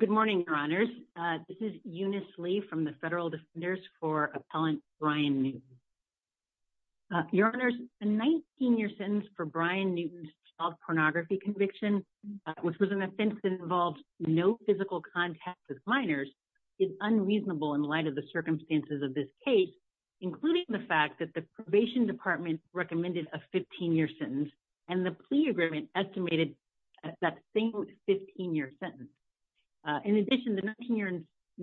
Good morning, Your Honors. This is Eunice Lee from the Federal Defenders for Appellant Brian Newton. Your Honors, a 19-year sentence for Brian Newton's child pornography conviction, which was an offense that involved no physical contact with minors, is unreasonable in light of the circumstances of this case, including the fact that the Probation Department recommended a 15-year sentence, and the plea agreement estimated that same 15-year sentence. In addition, the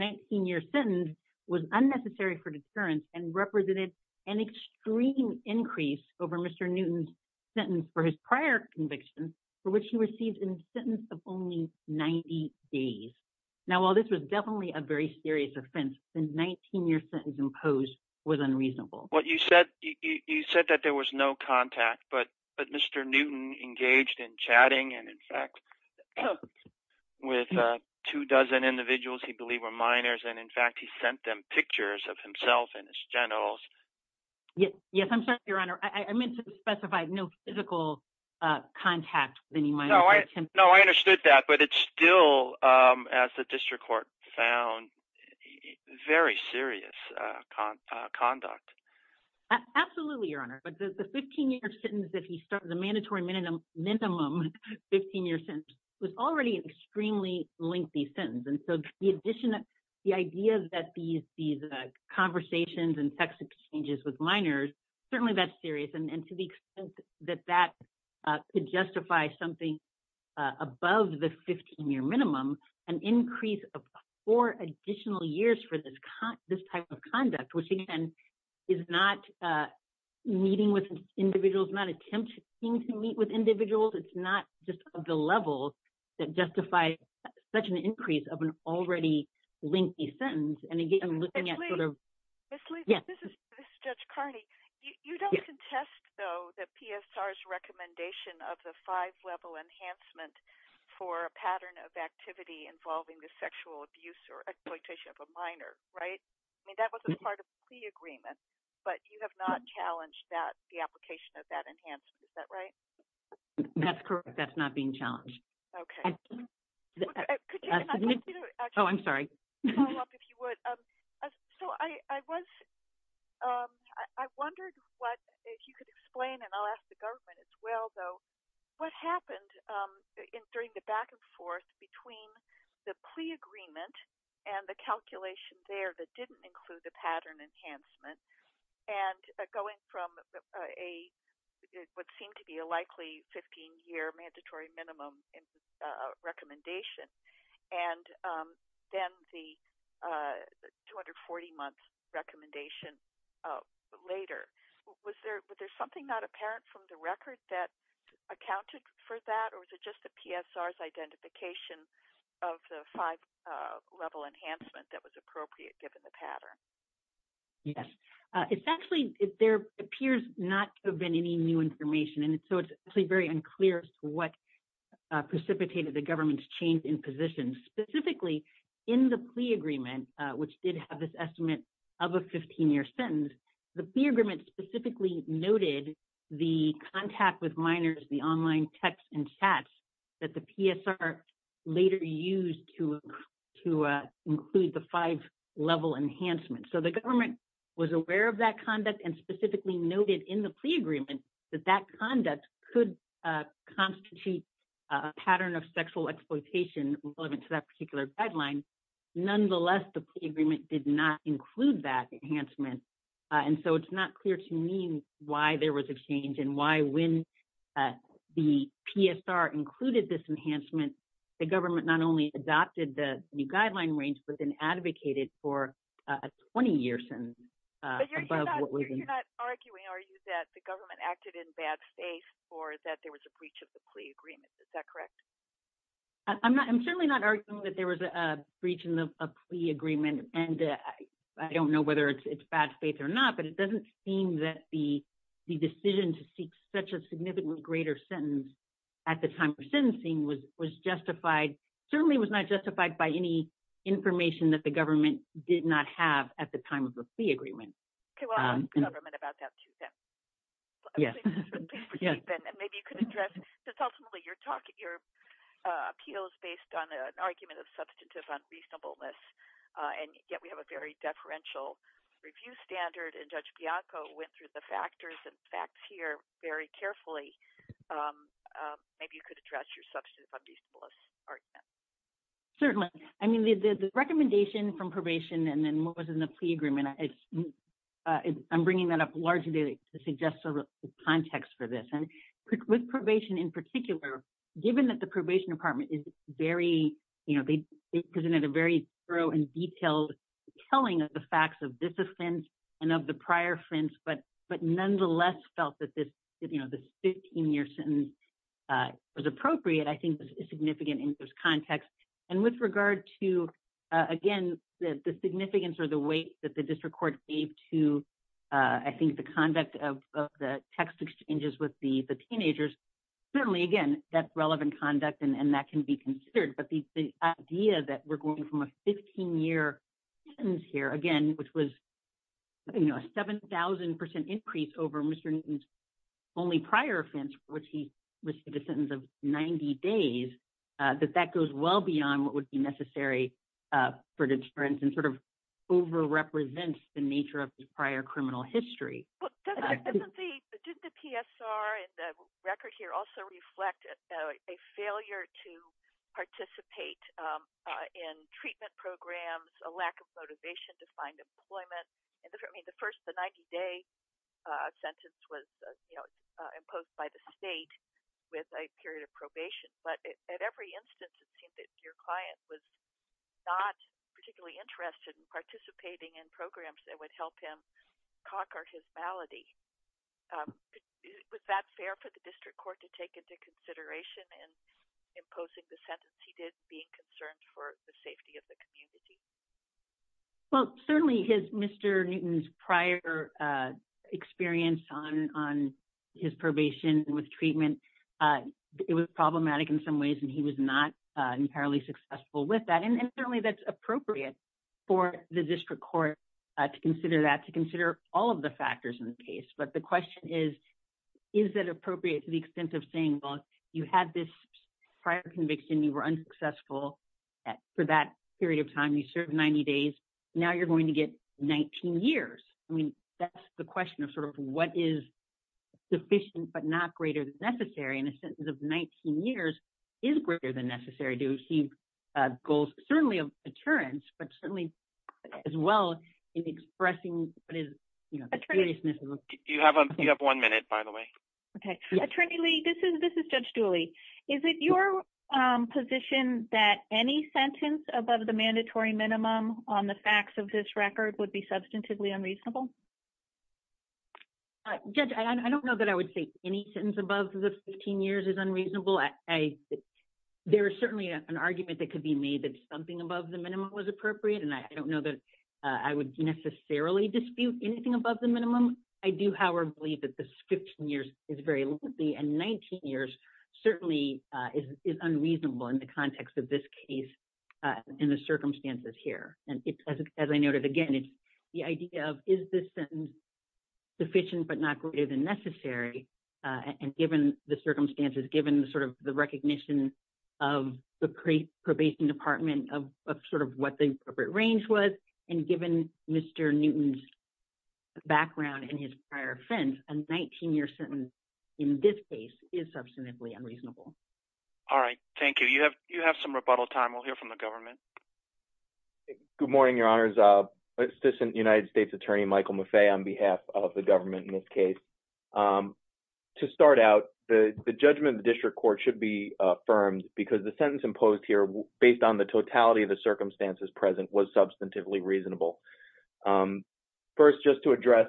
19-year sentence was unnecessary for deterrence and represented an extreme increase over Mr. Newton's sentence for his prior conviction, for which he received a sentence of only 90 days. Now, while this was definitely a very serious offense, the 19-year sentence imposed was but Mr. Newton engaged in chatting, and in fact, with two dozen individuals he believed were minors, and in fact, he sent them pictures of himself and his generals. Yes, I'm sorry, Your Honor. I meant to specify no physical contact with any minors. No, I understood that, but it's still, as the mandatory minimum 15-year sentence was already an extremely lengthy sentence, and so the idea that these conversations and sex exchanges with minors, certainly that's serious, and to the extent that that could justify something above the 15-year minimum, an increase of four additional years for this type of conduct, which again is not meeting with individuals, not attempting to meet with individuals, it's not just of the level that justifies such an increase of an already lengthy sentence, and again, looking at sort of... Ms. Lee, this is Judge Carney. You don't contest, though, that PSR's recommendation of the five-level enhancement for a pattern of activity involving the sexual abuse or exploitation of a minor, right? I mean, that was a part of the agreement, but you have not challenged that, the application of that enhancement, is that right? That's correct. That's not being challenged. Okay. Oh, I'm sorry. Follow up, if you would. So I was... I wondered what, if you could explain, and I'll ask the government as well, though, what happened during the back and forth between the plea agreement and the calculation there that didn't include the pattern enhancement, and going from a... what seemed to be a likely 15-year mandatory minimum recommendation, and then the 240-month recommendation later. Was there something not apparent from the record that of the five-level enhancement that was appropriate, given the pattern? Yes. It's actually... there appears not to have been any new information, and so it's actually very unclear as to what precipitated the government's change in position. Specifically, in the plea agreement, which did have this estimate of a 15-year sentence, the plea agreement specifically noted the contact with minors, the online texts and chats that the PSR later used to include the five-level enhancement. So the government was aware of that conduct and specifically noted in the plea agreement that that conduct could constitute a pattern of sexual exploitation relevant to that particular guideline. Nonetheless, the plea agreement did not include that enhancement, and so it's not clear to me why there was a change and why, when the PSR included this enhancement, the government not only adopted the new guideline range but then advocated for a 20-year sentence above what was... But you're not arguing, are you, that the government acted in bad faith or that there was a breach of the plea agreement? Is that correct? I'm not... I'm certainly not arguing that there was a breach in the plea agreement, and I don't know whether it's bad faith or not, but it doesn't seem that the decision to seek such a significant greater sentence at the time of sentencing was justified... certainly was not justified by any information that the government did not have at the time of the plea agreement. Okay, well, I'll ask the government about that, too, then. Yes, and maybe you could address... because ultimately, you're talking... your appeal is based on an argument of substantive unreasonableness, and yet we have a very deferential review standard, and Judge Bianco went through the factors and facts here very carefully. Maybe you could address your substantive unreasonableness argument. Certainly. I mean, the recommendation from probation and then what was in the plea agreement, it's... I'm bringing that up largely to suggest a context for this, and with probation in particular, given that the probation department is very, you know, they presented a very thorough and detailed telling of the facts of this offense and of the prior offense, but nonetheless felt that this, you know, this 15-year sentence was appropriate, I think is significant in this context, and with regard to, again, the significance or the weight that the district court gave to, I think, the conduct of the text exchanges with the teenagers, certainly, again, that's relevant conduct and that can be considered, but the idea that we're going from a 15-year sentence here, again, which was, you know, a 7,000 percent increase over Mr. Newton's only prior offense, which he received a sentence of 90 days, that that goes well beyond what would be necessary for deterrence and sort of over-represents the nature of his prior criminal history. Did the PSR and the record here also reflect a failure to participate in treatment programs, a lack of motivation to find employment? I mean, the first, the 90-day sentence was, you know, imposed by the state with a period of probation, but at every instance, it seemed that your client was not particularly interested in participating in programs that would help him conquer his malady. Was that fair for the district court to take into consideration in imposing the sentence he did, being concerned for the safety of the community? Well, certainly, his, Mr. Newton's prior experience on his probation with treatment, it was problematic in some ways, and he was not entirely successful with that, and certainly, that's appropriate for the district court to consider that, to consider all of the factors in the case, but the question is, is that appropriate to the extent of saying, well, had this prior conviction, you were unsuccessful for that period of time, you served 90 days, now you're going to get 19 years. I mean, that's the question of sort of what is sufficient, but not greater than necessary, and a sentence of 19 years is greater than necessary to achieve goals, certainly of deterrence, but certainly as well in expressing what is, you know, the seriousness of it. Attorney, you have one minute, by the way. Okay. Attorney Lee, this is Judge Dooley. Is it your position that any sentence above the mandatory minimum on the facts of this record would be substantively unreasonable? Judge, I don't know that I would say any sentence above the 15 years is unreasonable. There is certainly an argument that could be made that something above the minimum was appropriate, and I don't know that I would necessarily dispute anything above the minimum. I do, however, believe that the 15 years is very lengthy, and 19 years certainly is unreasonable in the context of this case and the circumstances here, and as I noted again, it's the idea of, is this sentence sufficient but not greater than necessary, and given the circumstances, given sort of the recognition of the probation department of sort of what the appropriate range was, and given Mr. Newton's background and his prior offense, a 19-year sentence in this case is substantively unreasonable. All right. Thank you. You have some rebuttal time. We'll hear from the government. Good morning, Your Honors. Assistant United States Attorney Michael Maffei on behalf of the government in this case. To start out, the judgment of the District Court should be affirmed because the sentence is substantively unreasonable. First, just to address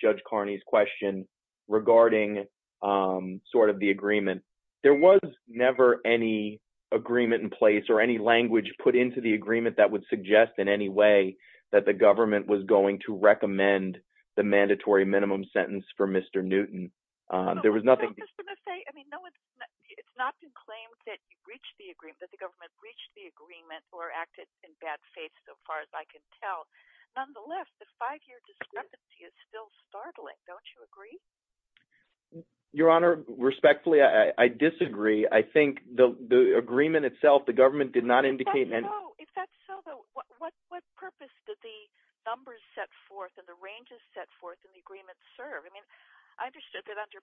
Judge Carney's question regarding sort of the agreement, there was never any agreement in place or any language put into the agreement that would suggest in any way that the government was going to recommend the mandatory minimum sentence for Mr. Newton. There was nothing— No, Mr. Maffei, I mean, it's not been claimed that you reached the agreement, that the government reached the agreement or acted in bad faith so far as I can tell. Nonetheless, the five-year discrepancy is still startling. Don't you agree? Your Honor, respectfully, I disagree. I think the agreement itself, the government did not indicate— If that's so, what purpose did the numbers set forth and the ranges set forth in the agreement serve? I mean, I understood that under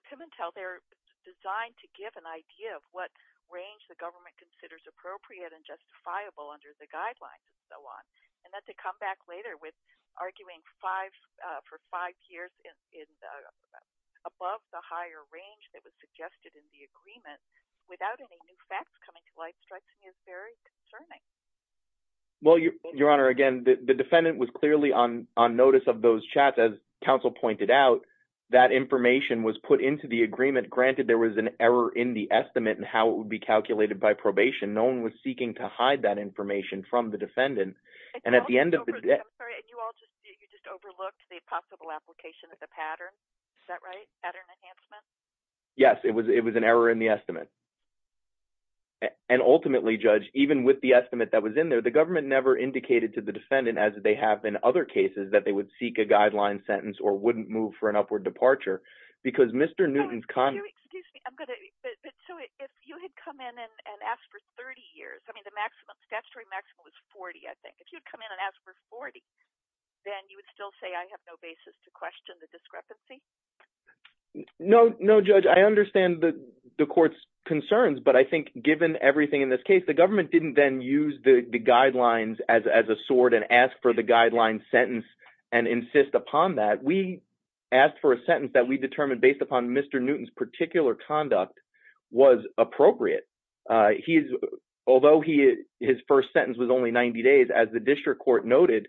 appropriate and justifiable under the guidelines and so on, and then to come back later with arguing for five years above the higher range that was suggested in the agreement without any new facts coming to light strikes me as very concerning. Well, Your Honor, again, the defendant was clearly on notice of those chats. As counsel pointed out, that information was put into the agreement. Granted, there was an error in the estimate and how it would be calculated by probation. No one was seeking to hide that information from the defendant. And at the end of the day— I'm sorry, and you all just overlooked the possible application of the pattern. Is that right? Pattern enhancement? Yes, it was an error in the estimate. And ultimately, Judge, even with the estimate that was in there, the government never indicated to the defendant, as they have in other cases, that they would seek a guideline sentence or wouldn't move for an upward departure because Mr. Newton's— Excuse me. So if you had come in and asked for 30 years, I mean, the statutory maximum was 40, I think. If you had come in and asked for 40, then you would still say, I have no basis to question the discrepancy? No, Judge. I understand the court's concerns, but I think given everything in this case, the government didn't then use the guidelines as a sword and ask for the guideline sentence and insist upon that. We asked for a sentence that we determined based upon Mr. Newton's particular conduct was appropriate. Although his first sentence was only 90 days, as the district court noted,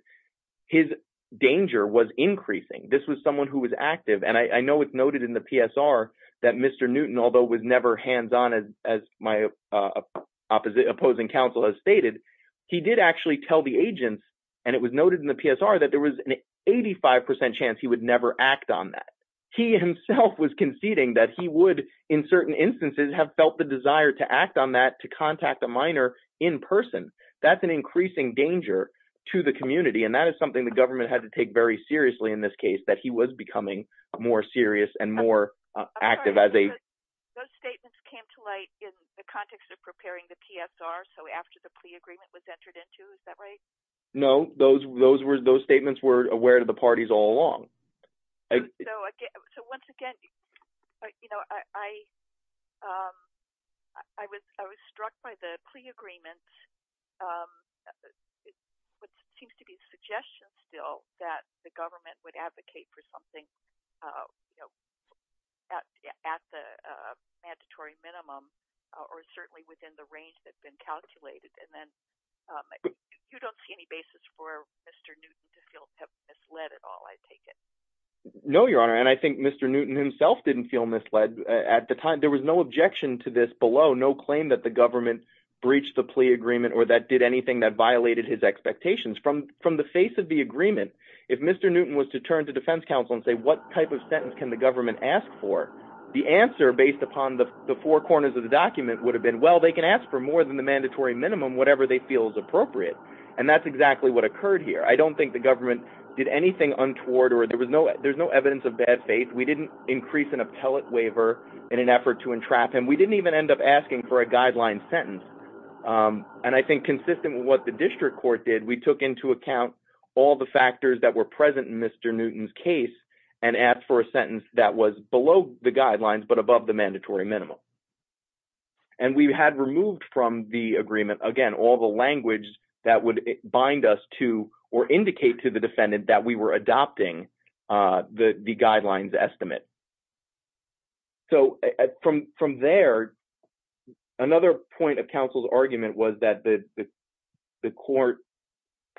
his danger was increasing. This was someone who was active. And I know it's noted in the PSR that Mr. Newton, although was never hands-on, as my opposing counsel has stated, he did actually tell the agents, and it was noted in the PSR, that there was an 85% chance he would never act on that. He himself was conceding that he would, in certain instances, have felt the desire to act on that, to contact a minor in person. That's an increasing danger to the community, and that is something the government had to take very seriously in this case, that he was becoming more serious and more active as a— Those statements came to light in the context of preparing the PSR, so after the plea agreement was entered into, is that right? No, those statements were aware to the parties all along. So once again, I was struck by the plea agreement, which seems to be a suggestion still, that the government would advocate for something at the mandatory minimum, or certainly within the range that's been calculated, and then— You don't see any basis for Mr. Newton to feel misled at all, I take it? No, Your Honor, and I think Mr. Newton himself didn't feel misled at the time. There was no objection to this below, no claim that the government breached the plea agreement or that did anything that violated his expectations. From the face of the agreement, if Mr. Newton was to turn to defense counsel and say, what type of sentence can the government ask for, the answer, based upon the four corners of the document, would have been, well, they can ask for more than the mandatory minimum, whatever they feel is appropriate, and that's exactly what occurred here. I don't think the government did anything untoward, or there's no evidence of bad faith. We didn't increase an appellate waiver in an effort to entrap him. We didn't even end up asking for a guideline sentence, and I think consistent with what the district court did, we took into account all the factors that were present in Mr. Newton's case and asked for a sentence that was below the guidelines but above the mandatory minimum, and we had removed from the agreement, again, all the language that would bind us to or indicate to the defendant that we were adopting the guidelines estimate. So from there, another point of counsel's argument was that the court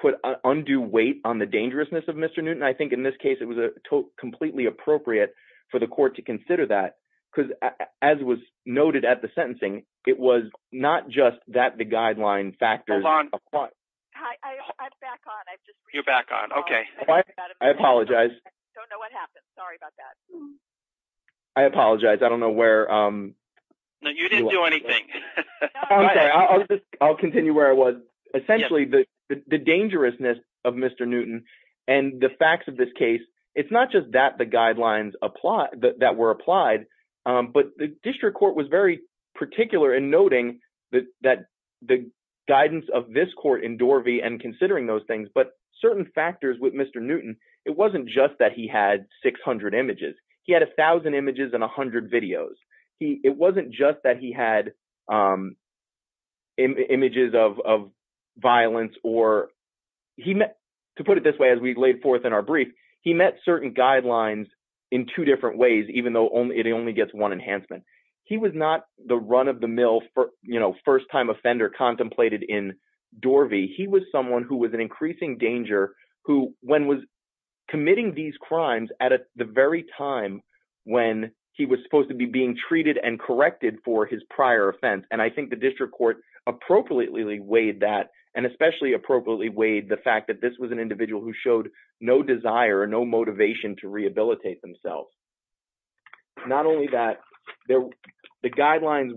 put undue weight on the dangerousness of Mr. Newton. I think in this case, it was completely appropriate for the court to consider that because as was noted at the guideline factors... Hold on. I'm back on. You're back on. Okay. I apologize. I don't know what happened. Sorry about that. I apologize. I don't know where... No, you didn't do anything. I'm sorry. I'll continue where I was. Essentially, the dangerousness of Mr. Newton and the facts of this case, it's not just that the guidelines that were applied, but the district court was very particular in noting that the guidance of this court in Dorvey and considering those things, but certain factors with Mr. Newton, it wasn't just that he had 600 images. He had 1,000 images and 100 videos. It wasn't just that he had images of violence or... To put it this way, as we laid forth in our brief, he met certain guidelines in two different ways, even though it only gets one enhancement. He was not the run-of-the-mill first-time offender contemplated in Dorvey. He was someone who was in increasing danger when was committing these crimes at the very time when he was supposed to be being treated and corrected for his prior offense. I think the district court appropriately weighed that and especially appropriately weighed the fact that this was an individual who showed no desire or no motivation to rehabilitate themselves. Not only that, the guidelines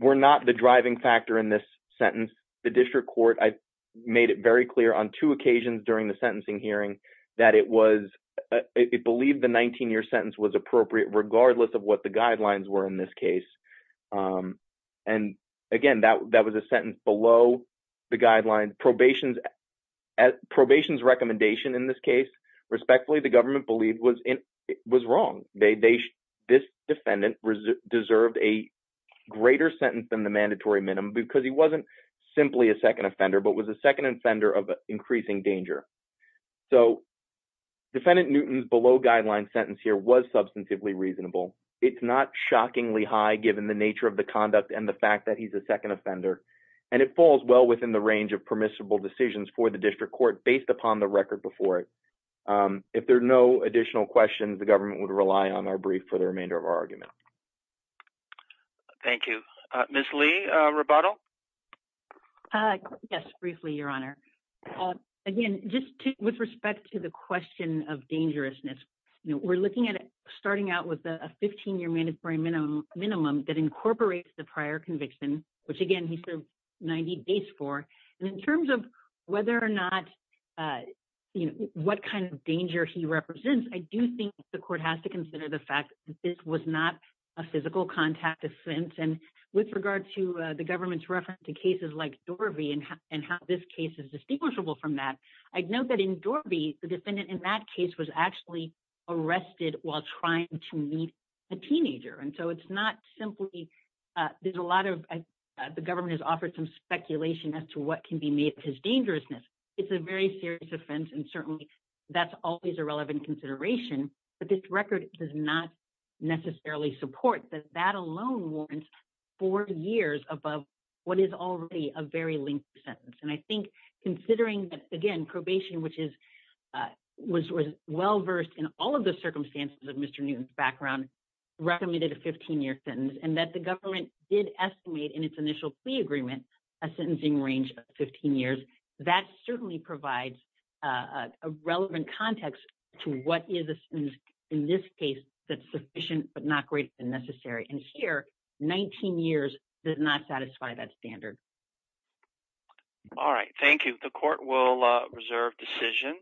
were not the driving factor in this sentence. The district court made it very clear on two occasions during the sentencing hearing that it believed the 19-year sentence was appropriate regardless of what the guidelines were in this case. Again, that was a sentence below the guidelines. Probation's recommendation in this case, respectfully, the government believed was wrong. This defendant deserved a greater sentence than the mandatory minimum because he wasn't simply a second offender but was a second offender of increasing danger. Defendant Newton's below-guideline sentence here was substantively reasonable. It's not shockingly high given the nature of the conduct and the fact that he's a second offender, and it falls well within the range of permissible decisions for the district court based upon the record before it. If there are no additional questions, the government would rely on our brief for the remainder of our argument. Thank you. Ms. Lee, rebuttal? Yes, briefly, Your Honor. Again, just with respect to the question of dangerousness, we're looking at starting out with a 15-year mandatory minimum that incorporates the prior conviction, which, again, he served 90 days for. In terms of whether or not what kind of danger he represents, I do think the court has to consider the fact that this was not a physical contact offense. With regard to the government's reference to cases like Dorby and how this case is distinguishable from that, I'd note that in Dorby, the defendant in that case was actually arrested while trying to meet a teenager. The government has offered some speculation as to what can be made of his dangerousness. It's a very serious offense, and certainly that's always a relevant consideration, but this record does not necessarily support that. That alone warrants four years above what is already a very lengthy sentence. I think considering that, again, probation was well-versed in all of the circumstances of Mr. Newton's background, recommended a 15-year sentence, and that the government did estimate in its initial plea agreement a sentencing range of 15 years, that certainly provides a relevant context to what is a sentence in this case that's sufficient but not greater than necessary. Here, 19 years does not satisfy that standard. All right. Thank you. The court will reserve decision.